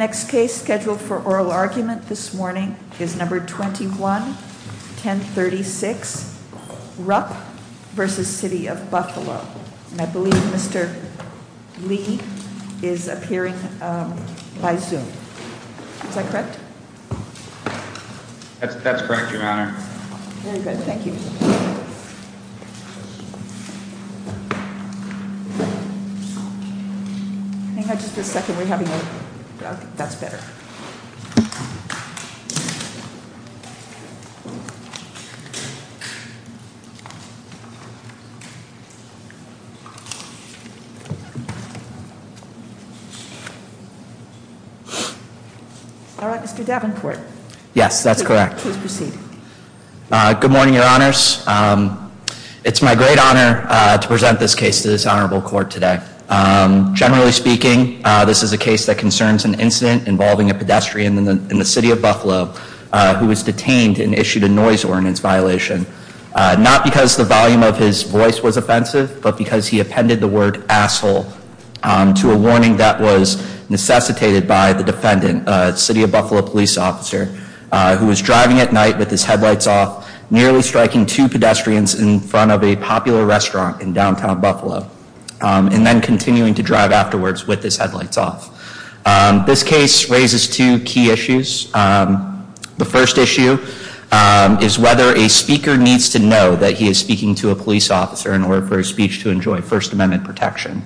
The next case scheduled for oral argument this morning is No. 21-1036, Rupp v. City of Buffalo. I believe Mr. Lee is appearing by Zoom. Is that correct? That's correct, Your Honor. Very good. Thank you. All right, Mr. Davenport. Yes, that's correct. Please proceed. Good morning, Your Honors. It's my great honor to present this case to this honorable court today. Generally speaking, this is a case that concerns an incident involving a pedestrian in the City of Buffalo who was detained and issued a noise ordinance violation. Not because the volume of his voice was offensive, but because he appended the word asshole to a warning that was necessitated by the defendant, a City of Buffalo police officer, who was driving at night with his headlights off, nearly striking two pedestrians in front of a popular restaurant in downtown Buffalo, and then continuing to drive afterwards with his headlights off. This case raises two key issues. The first issue is whether a speaker needs to know that he is speaking to a police officer in order for his speech to enjoy First Amendment protection.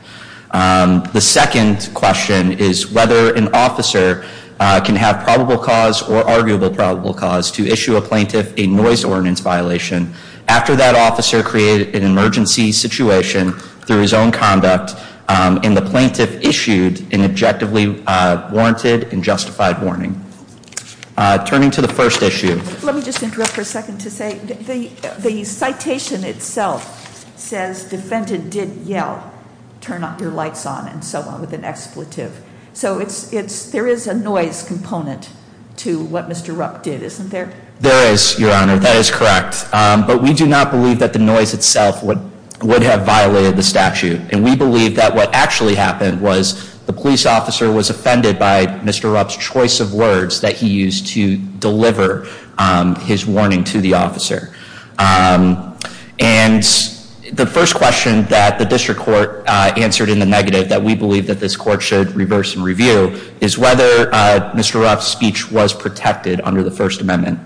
The second question is whether an officer can have probable cause or arguable probable cause to issue a plaintiff a noise ordinance violation after that officer created an emergency situation through his own conduct and the plaintiff issued an objectively warranted and justified warning. Turning to the first issue. Let me just interrupt for a second to say the citation itself says defendant did yell, turn your lights on, and so on with an expletive. So there is a noise component to what Mr. Rupp did, isn't there? There is, Your Honor, that is correct. But we do not believe that the noise itself would have violated the statute. And we believe that what actually happened was the police officer was offended by Mr. Rupp's choice of words that he used to deliver his warning to the officer. And the first question that the district court answered in the negative that we believe that this court should reverse and review is whether Mr. Rupp's speech was protected under the First Amendment.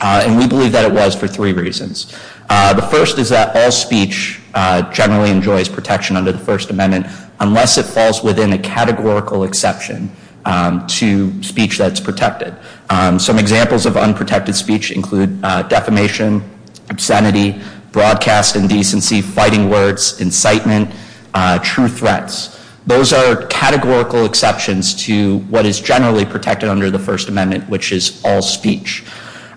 And we believe that it was for three reasons. The first is that all speech generally enjoys protection under the First Amendment unless it falls within a categorical exception to speech that's protected. Some examples of unprotected speech include defamation, obscenity, broadcast indecency, fighting words, incitement, true threats. Those are categorical exceptions to what is generally protected under the First Amendment, which is all speech.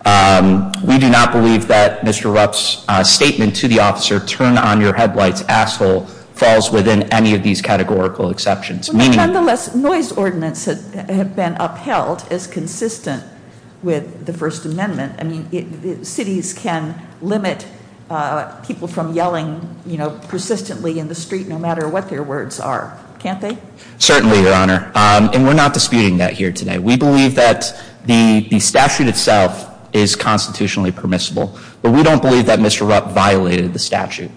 We do not believe that Mr. Rupp's statement to the officer, turn on your headlights, asshole, falls within any of these categorical exceptions. Nonetheless, noise ordinance have been upheld as consistent with the First Amendment. I mean, cities can limit people from yelling persistently in the street no matter what their words are, can't they? Certainly, Your Honor. And we're not disputing that here today. We believe that the statute itself is constitutionally permissible. But we don't believe that Mr. Rupp violated the statute.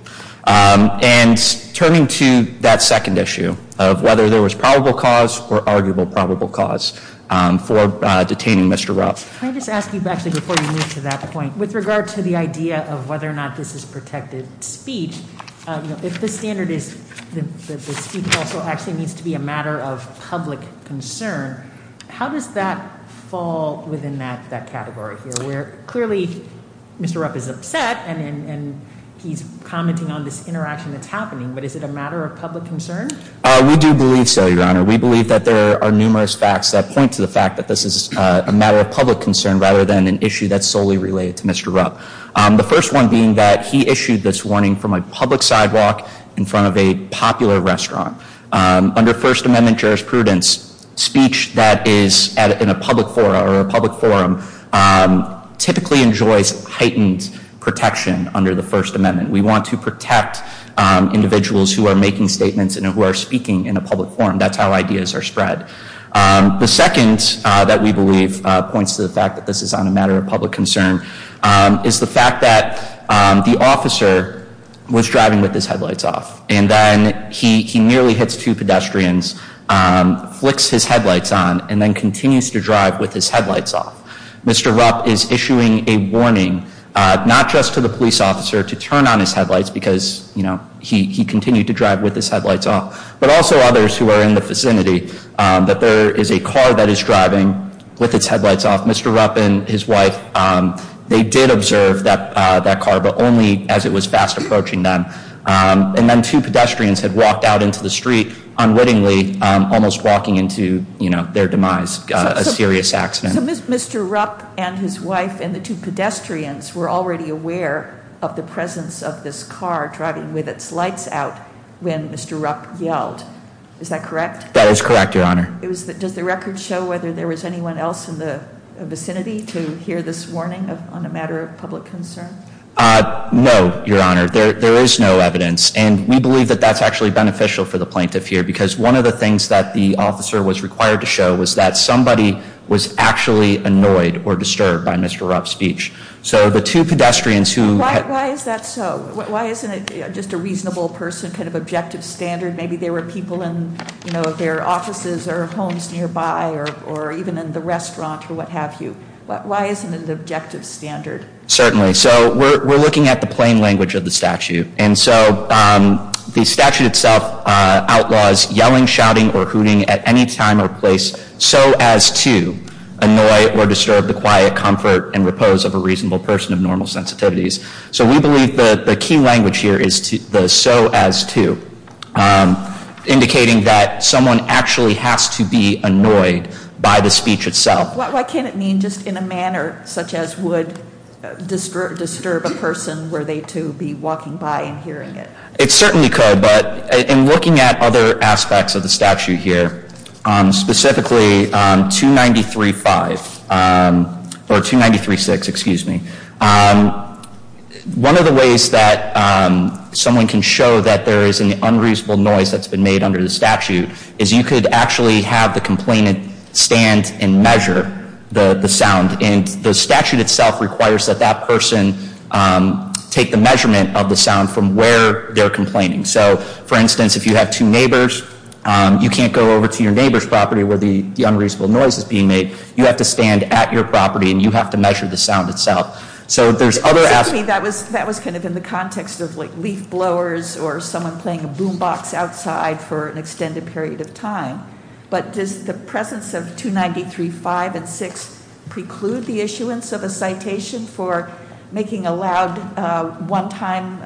And turning to that second issue of whether there was probable cause or arguable probable cause for detaining Mr. Rupp. Can I just ask you, actually, before you move to that point, with regard to the idea of whether or not this is protected speech, if the standard is that the speech also actually needs to be a matter of public concern, how does that fall within that category here where clearly Mr. Rupp is upset and he's commenting on this interaction that's happening? But is it a matter of public concern? We do believe so, Your Honor. We believe that there are numerous facts that point to the fact that this is a matter of public concern rather than an issue that's solely related to Mr. Rupp. The first one being that he issued this warning from a public sidewalk in front of a popular restaurant. Under First Amendment jurisprudence, speech that is in a public forum typically enjoys heightened protection under the First Amendment. We want to protect individuals who are making statements and who are speaking in a public forum. That's how ideas are spread. The second that we believe points to the fact that this is on a matter of public concern is the fact that the officer was driving with his headlights off. And then he nearly hits two pedestrians, flicks his headlights on, and then continues to drive with his headlights off. Mr. Rupp is issuing a warning not just to the police officer to turn on his headlights because, you know, he continued to drive with his headlights off, but also others who are in the vicinity that there is a car that is driving with its headlights off. Mr. Rupp and his wife, they did observe that car, but only as it was fast approaching them. And then two pedestrians had walked out into the street unwittingly, almost walking into, you know, their demise, a serious accident. So Mr. Rupp and his wife and the two pedestrians were already aware of the presence of this car driving with its lights out when Mr. Rupp yelled. Is that correct? That is correct, Your Honor. Does the record show whether there was anyone else in the vicinity to hear this warning on a matter of public concern? No, Your Honor. There is no evidence, and we believe that that's actually beneficial for the plaintiff here because one of the things that the officer was required to show was that somebody was actually annoyed or disturbed by Mr. Rupp's speech. So the two pedestrians who had— Why is that so? Why isn't it just a reasonable person, kind of objective standard? Maybe there were people in, you know, their offices or homes nearby or even in the restaurant or what have you. Why isn't it an objective standard? Certainly. So we're looking at the plain language of the statute. And so the statute itself outlaws yelling, shouting, or hooting at any time or place so as to annoy or disturb the quiet comfort and repose of a reasonable person of normal sensitivities. So we believe that the key language here is the so as to, indicating that someone actually has to be annoyed by the speech itself. So why can't it mean just in a manner such as would disturb a person were they to be walking by and hearing it? It certainly could, but in looking at other aspects of the statute here, specifically 293.5 or 293.6, excuse me, one of the ways that someone can show that there is an unreasonable noise that's been made under the statute is you could actually have the complainant stand and measure the sound. And the statute itself requires that that person take the measurement of the sound from where they're complaining. So, for instance, if you have two neighbors, you can't go over to your neighbor's property where the unreasonable noise is being made. You have to stand at your property and you have to measure the sound itself. So there's other aspects- Excuse me, that was kind of in the context of leaf blowers or someone playing a boom box outside for an extended period of time. But does the presence of 293.5 and 6 preclude the issuance of a citation for making a loud one-time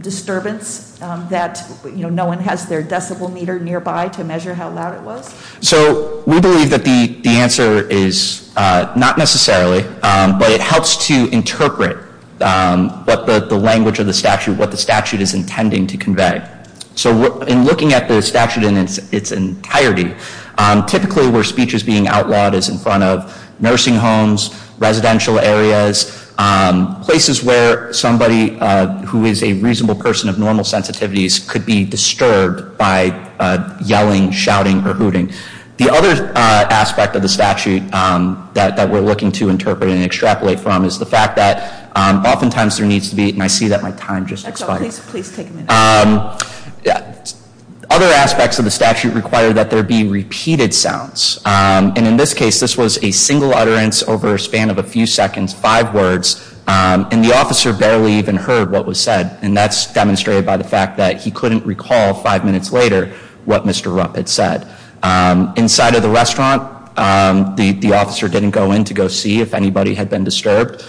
disturbance that no one has their decibel meter nearby to measure how loud it was? So we believe that the answer is not necessarily, but it helps to interpret what the language of the statute, what the statute is intending to convey. So in looking at the statute in its entirety, typically where speech is being outlawed is in front of nursing homes, residential areas, places where somebody who is a reasonable person of normal sensitivities could be disturbed by yelling, shouting, or hooting. The other aspect of the statute that we're looking to interpret and extrapolate from is the fact that oftentimes there needs to be- And I see that my time just expired. Please take a minute. Other aspects of the statute require that there be repeated sounds. And in this case, this was a single utterance over a span of a few seconds, five words, and the officer barely even heard what was said. And that's demonstrated by the fact that he couldn't recall five minutes later what Mr. Rupp had said. Inside of the restaurant, the officer didn't go in to go see if anybody had been disturbed.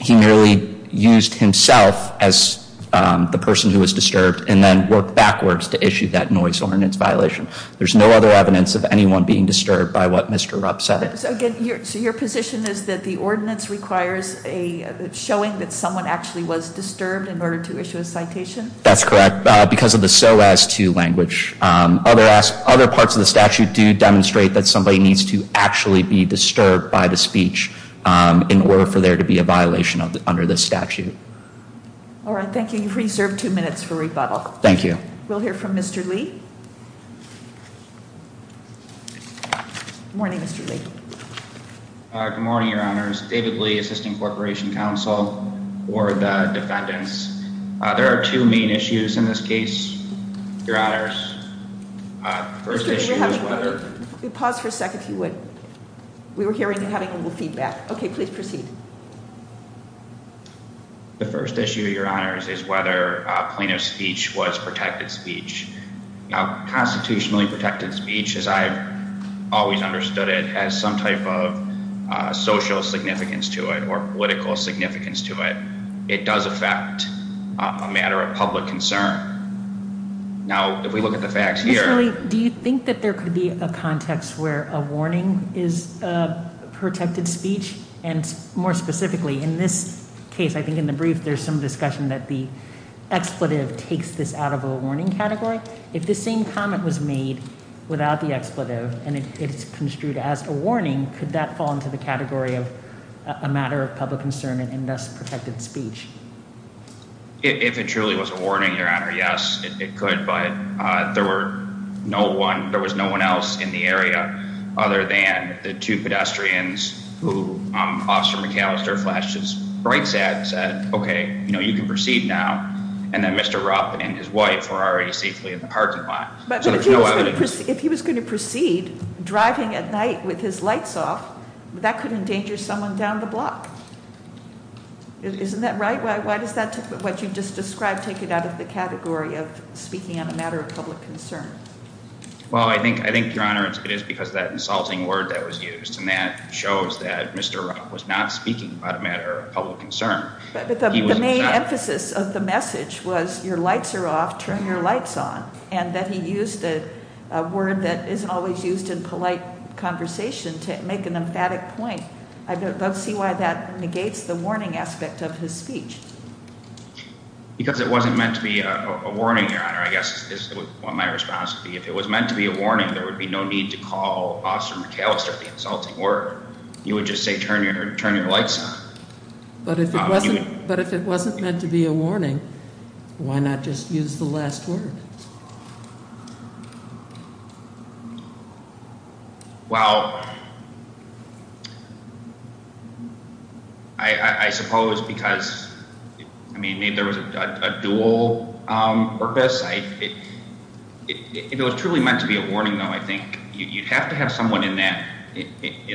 He merely used himself as the person who was disturbed and then worked backwards to issue that noise ordinance violation. There's no other evidence of anyone being disturbed by what Mr. Rupp said. So your position is that the ordinance requires a showing that someone actually was disturbed in order to issue a citation? That's correct. Because of the so as to language. Other parts of the statute do demonstrate that somebody needs to actually be disturbed by the speech in order for there to be a violation under this statute. All right. Thank you. You've reserved two minutes for rebuttal. Thank you. We'll hear from Mr. Lee. Good morning, Mr. Lee. Good morning, Your Honors. David Lee, Assistant Corporation Counsel for the defendants. There are two main issues in this case, Your Honors. The first issue is whether. Pause for a second, if you would. We were hearing you having a little feedback. Okay, please proceed. The first issue, Your Honors, is whether plaintiff's speech was protected speech. Constitutionally protected speech, as I've always understood it, has some type of social significance to it or political significance to it. It does affect a matter of public concern. Now, if we look at the facts here. Mr. Lee, do you think that there could be a context where a warning is protected speech? And more specifically, in this case, I think in the brief, there's some discussion that the expletive takes this out of a warning category. If the same comment was made without the expletive and it's construed as a warning, could that fall into the category of a matter of public concern and thus protected speech? If it truly was a warning, Your Honor, yes, it could. But there was no one else in the area other than the two pedestrians who Officer McAllister flashed his brights at and said, okay, you can proceed now. And then Mr. Rupp and his wife were already safely in the parking lot. But if he was going to proceed driving at night with his lights off, that could endanger someone down the block. Isn't that right? Why does what you just described take it out of the category of speaking on a matter of public concern? Well, I think, Your Honor, it is because of that insulting word that was used. And that shows that Mr. Rupp was not speaking about a matter of public concern. But the main emphasis of the message was your lights are off, turn your lights on. And that he used a word that isn't always used in polite conversation to make an emphatic point. I don't see why that negates the warning aspect of his speech. Because it wasn't meant to be a warning, Your Honor, I guess is what my response would be. If it was meant to be a warning, there would be no need to call Officer McAllister the insulting word. You would just say turn your lights on. But if it wasn't meant to be a warning, why not just use the last word? Well, I suppose because, I mean, there was a dual purpose. It was truly meant to be a warning, though, I think. You'd have to have someone in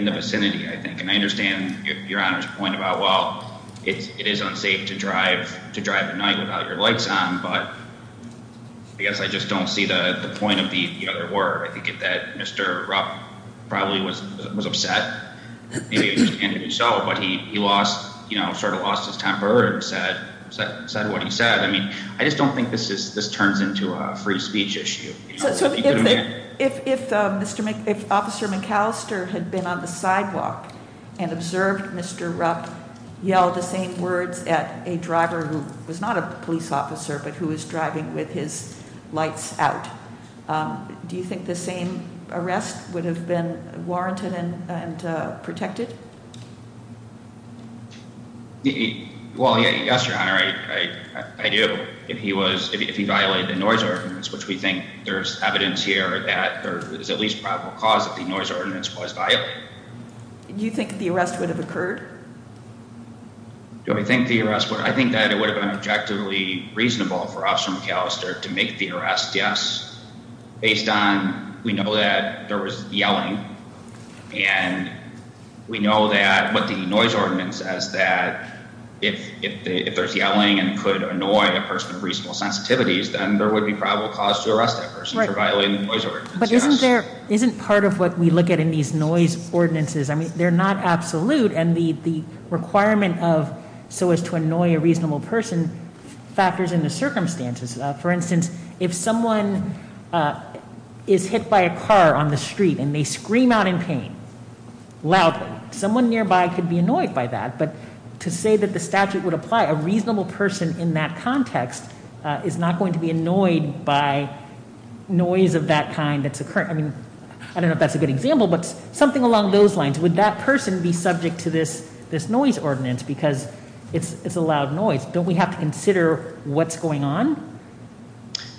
the vicinity, I think. And I understand Your Honor's point about, well, it is unsafe to drive at night without your lights on. But I guess I just don't see the point of the other word. I think that Mr. Rupp probably was upset. Maybe it was intended to be so, but he sort of lost his temper and said what he said. I mean, I just don't think this turns into a free speech issue. So if Officer McAllister had been on the sidewalk and observed Mr. Rupp yell the same words at a driver who was not a police officer but who was driving with his lights out, do you think the same arrest would have been warranted and protected? Well, yes, Your Honor, I do. If he violated the noise ordinance, which we think there's evidence here that there is at least probable cause that the noise ordinance was violated. Do you think the arrest would have occurred? Do I think the arrest would have occurred? I think that it would have been objectively reasonable for Officer McAllister to make the arrest, yes. Based on, we know that there was yelling, and we know that what the noise ordinance says that if there's yelling and could annoy a person of reasonable sensitivities, then there would be probable cause to arrest that person for violating the noise ordinance. But isn't part of what we look at in these noise ordinances, I mean, they're not absolute. And the requirement of so as to annoy a reasonable person factors into circumstances. For instance, if someone is hit by a car on the street and they scream out in pain loudly, someone nearby could be annoyed by that. But to say that the statute would apply a reasonable person in that context is not going to be annoyed by noise of that kind that's occurring. I mean, I don't know if that's a good example, but something along those lines. Would that person be subject to this noise ordinance because it's a loud noise? Don't we have to consider what's going on?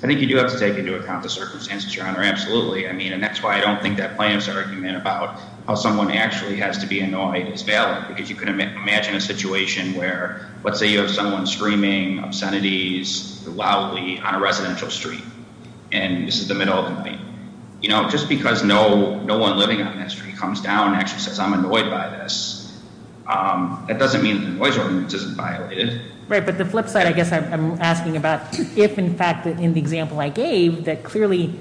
I think you do have to take into account the circumstances, Your Honor. Absolutely. I mean, and that's why I don't think that plaintiff's argument about how someone actually has to be annoyed is valid because you can imagine a situation where let's say you have someone screaming obscenities loudly on a residential street. And this is the middle of the night. You know, just because no one living on that street comes down actually says I'm annoyed by this. It doesn't mean the noise ordinance isn't violated. Right. But the flip side, I guess I'm asking about if, in fact, in the example I gave that clearly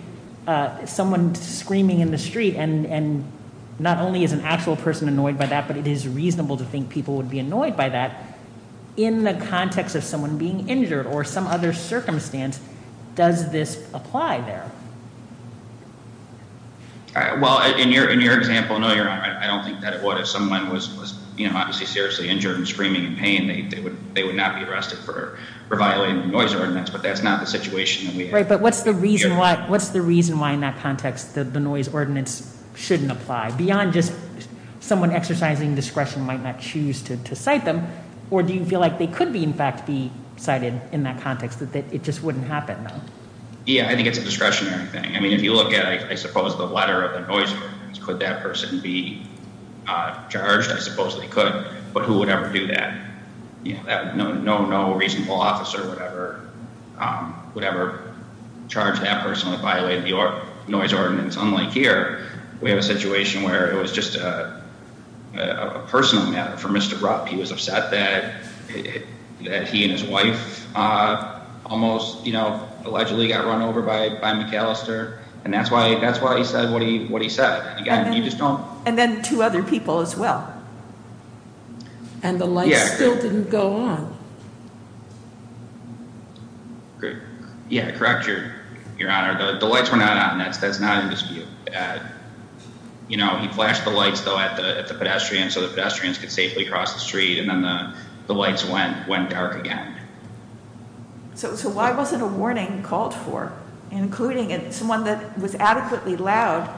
someone screaming in the street and not only is an actual person annoyed by that, but it is reasonable to think people would be annoyed by that. In the context of someone being injured or some other circumstance, does this apply there? Well, in your example, I don't think that it would. If someone was obviously seriously injured and screaming in pain, they would not be arrested for violating the noise ordinance. But that's not the situation. Right. But what's the reason why? What's the reason why in that context that the noise ordinance shouldn't apply beyond just someone exercising discretion might not choose to cite them? Or do you feel like they could be, in fact, be cited in that context that it just wouldn't happen? Yeah, I think it's a discretionary thing. I mean, if you look at, I suppose, the letter of the noise could that person be charged? I suppose they could. But who would ever do that? No reasonable officer would ever charge that person with violating the noise ordinance. Unlike here, we have a situation where it was just a personal matter for Mr. Rupp. He was upset that he and his wife almost allegedly got run over by McAllister. And that's why he said what he said. And then two other people as well. And the light still didn't go on. Yeah, correct. Your Your Honor, the lights were not on. That's that's not in dispute. You know, he flashed the lights, though, at the pedestrian so that pedestrians could safely cross the street. And then the lights went went dark again. So why wasn't a warning called for, including someone that was adequately loud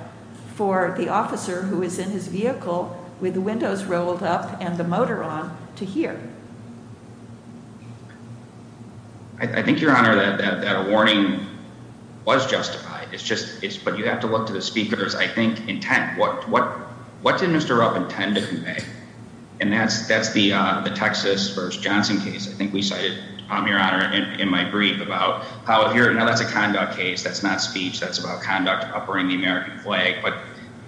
for the officer who is in his vehicle with the windows rolled up and the motor on to hear? I think, Your Honor, that a warning was justified. It's just it's but you have to look to the speaker's, I think, intent. What what what did Mr. Rupp intend to convey? And that's that's the Texas versus Johnson case. I think we cited, Your Honor, in my brief about how here. Now, that's a conduct case. That's not speech. That's about conduct. Uppering the American flag. But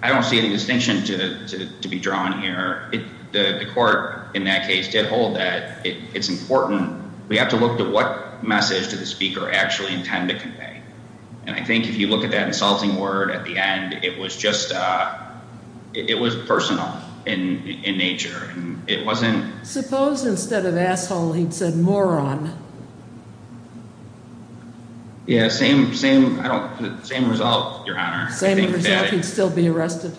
I don't see any distinction to be drawn here. The court in that case did hold that it's important. We have to look at what message to the speaker actually intend to convey. And I think if you look at that insulting word at the end, it was just it was personal in nature. Suppose instead of asshole, he'd said moron. Yeah, same same. I don't. Same result. Your Honor. Same result. He'd still be arrested.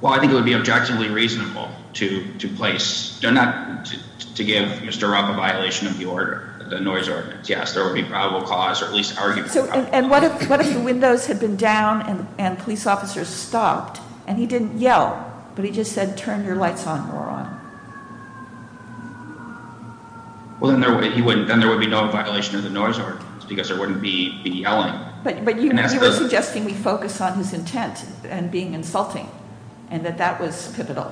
Well, I think it would be objectively reasonable to to place not to give Mr. Rupp a violation of the order. The noise ordinance. Yes, there will be probable cause or at least argue. So and what if what if the windows had been down and police officers stopped and he didn't yell, but he just said, turn your lights on, moron. Well, then he wouldn't then there would be no violation of the noise or because there wouldn't be yelling. But you were suggesting we focus on his intent and being insulting and that that was pivotal.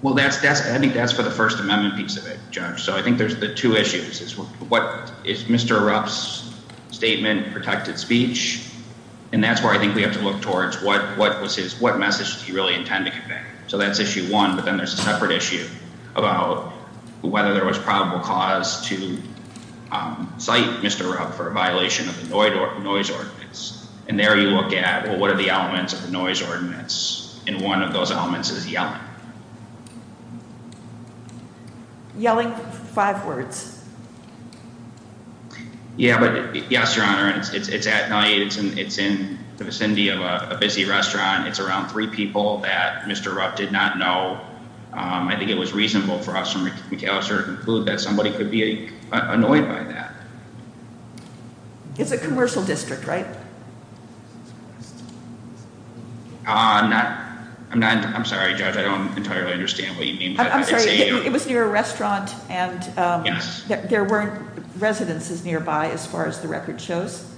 Well, that's that's I think that's for the First Amendment piece of it, Judge. So I think there's the two issues is what is Mr. Rupp's statement, protected speech. And that's where I think we have to look towards what what was his what message do you really intend to convey? So that's issue one. But then there's a separate issue about whether there was probable cause to cite Mr. Rupp for a violation of the noise ordinance. And there you look at, well, what are the elements of the noise ordinance? And one of those elements is yelling. Yelling five words. Yeah. But yes, your honor, it's at night and it's in the vicinity of a busy restaurant. It's around three people that Mr. Rupp did not know. I think it was reasonable for us to conclude that somebody could be annoyed by that. It's a commercial district, right? I'm not. I'm not. I'm sorry. I don't entirely understand what you mean. It was near a restaurant and there weren't residences nearby as far as the record shows.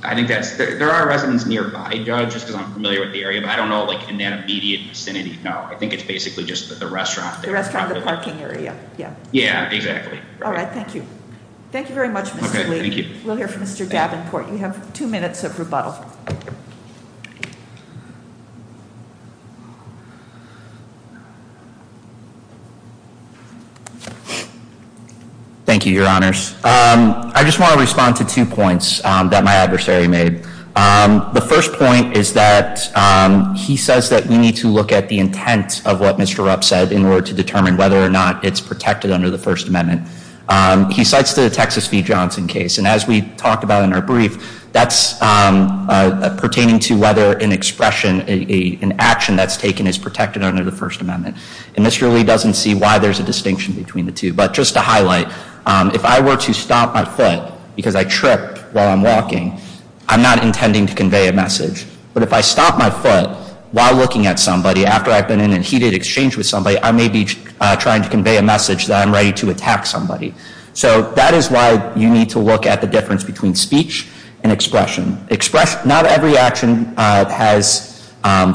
I think that's there are residents nearby, just because I'm familiar with the area, but I don't know, like, in that immediate vicinity. No, I think it's basically just the restaurant, the restaurant, the parking area. Yeah. Yeah, exactly. All right. Thank you. Thank you very much. Thank you. We'll hear from Mr. Davenport. You have two minutes of rebuttal. Thank you, your honors. I just want to respond to two points that my adversary made. The first point is that he says that we need to look at the intent of what Mr. Rupp said in order to determine whether or not it's protected under the First Amendment. He cites the Texas v. Johnson case. And as we talked about in our brief, that's pertaining to whether an expression, an action that's taken is protected under the First Amendment. And Mr. Lee doesn't see why there's a distinction between the two. But just to highlight, if I were to stop my foot because I trip while I'm walking, I'm not intending to convey a message. But if I stop my foot while looking at somebody after I've been in a heated exchange with somebody, I may be trying to convey a message that I'm ready to attack somebody. So that is why you need to look at the difference between speech and expression. Express. Not every action has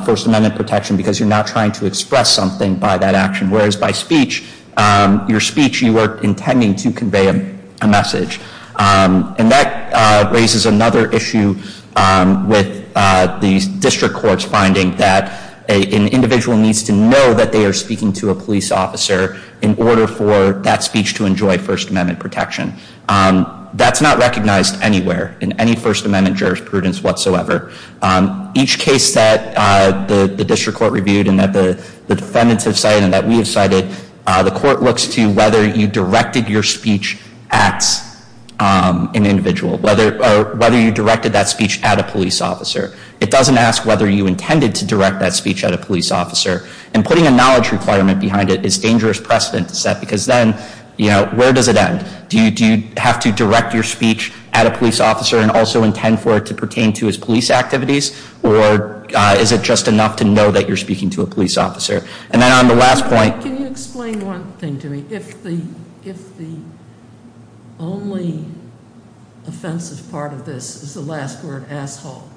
First Amendment protection because you're not trying to express something by that action. Whereas by speech, your speech, you are intending to convey a message. And that raises another issue with these district courts finding that an individual needs to know that they are speaking to a police officer in order for that speech to enjoy First Amendment protection. That's not recognized anywhere in any First Amendment jurisprudence whatsoever. Each case that the district court reviewed and that the defendants have cited and that we have cited, the court looks to whether you directed your speech at an individual, whether you directed that speech at a police officer. It doesn't ask whether you intended to direct that speech at a police officer. And putting a knowledge requirement behind it is dangerous precedent to set because then, you know, where does it end? Do you have to direct your speech at a police officer and also intend for it to pertain to his police activities? Or is it just enough to know that you're speaking to a police officer? And then on the last point- Can you explain one thing to me? If the only offensive part of this is the last word, asshole.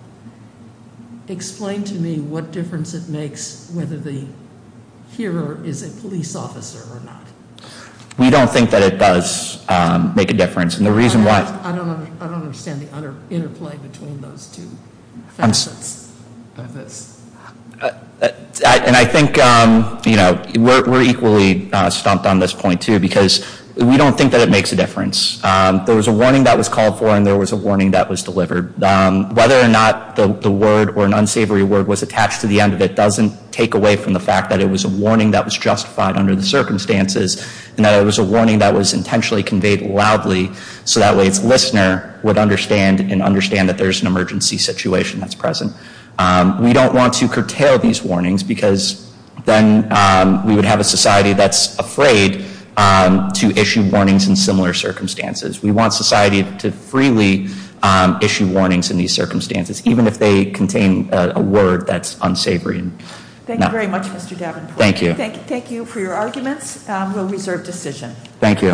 Explain to me what difference it makes whether the hearer is a police officer or not. We don't think that it does make a difference. And the reason why- I don't understand the interplay between those two facets of this. And I think, you know, we're equally stumped on this point, too, because we don't think that it makes a difference. There was a warning that was called for and there was a warning that was delivered. Whether or not the word or an unsavory word was attached to the end of it and that it was a warning that was intentionally conveyed loudly, so that way its listener would understand and understand that there's an emergency situation that's present. We don't want to curtail these warnings because then we would have a society that's afraid to issue warnings in similar circumstances. We want society to freely issue warnings in these circumstances, even if they contain a word that's unsavory. Thank you very much, Mr. Davenport. Thank you. Thank you for your arguments. We'll reserve decision. Thank you.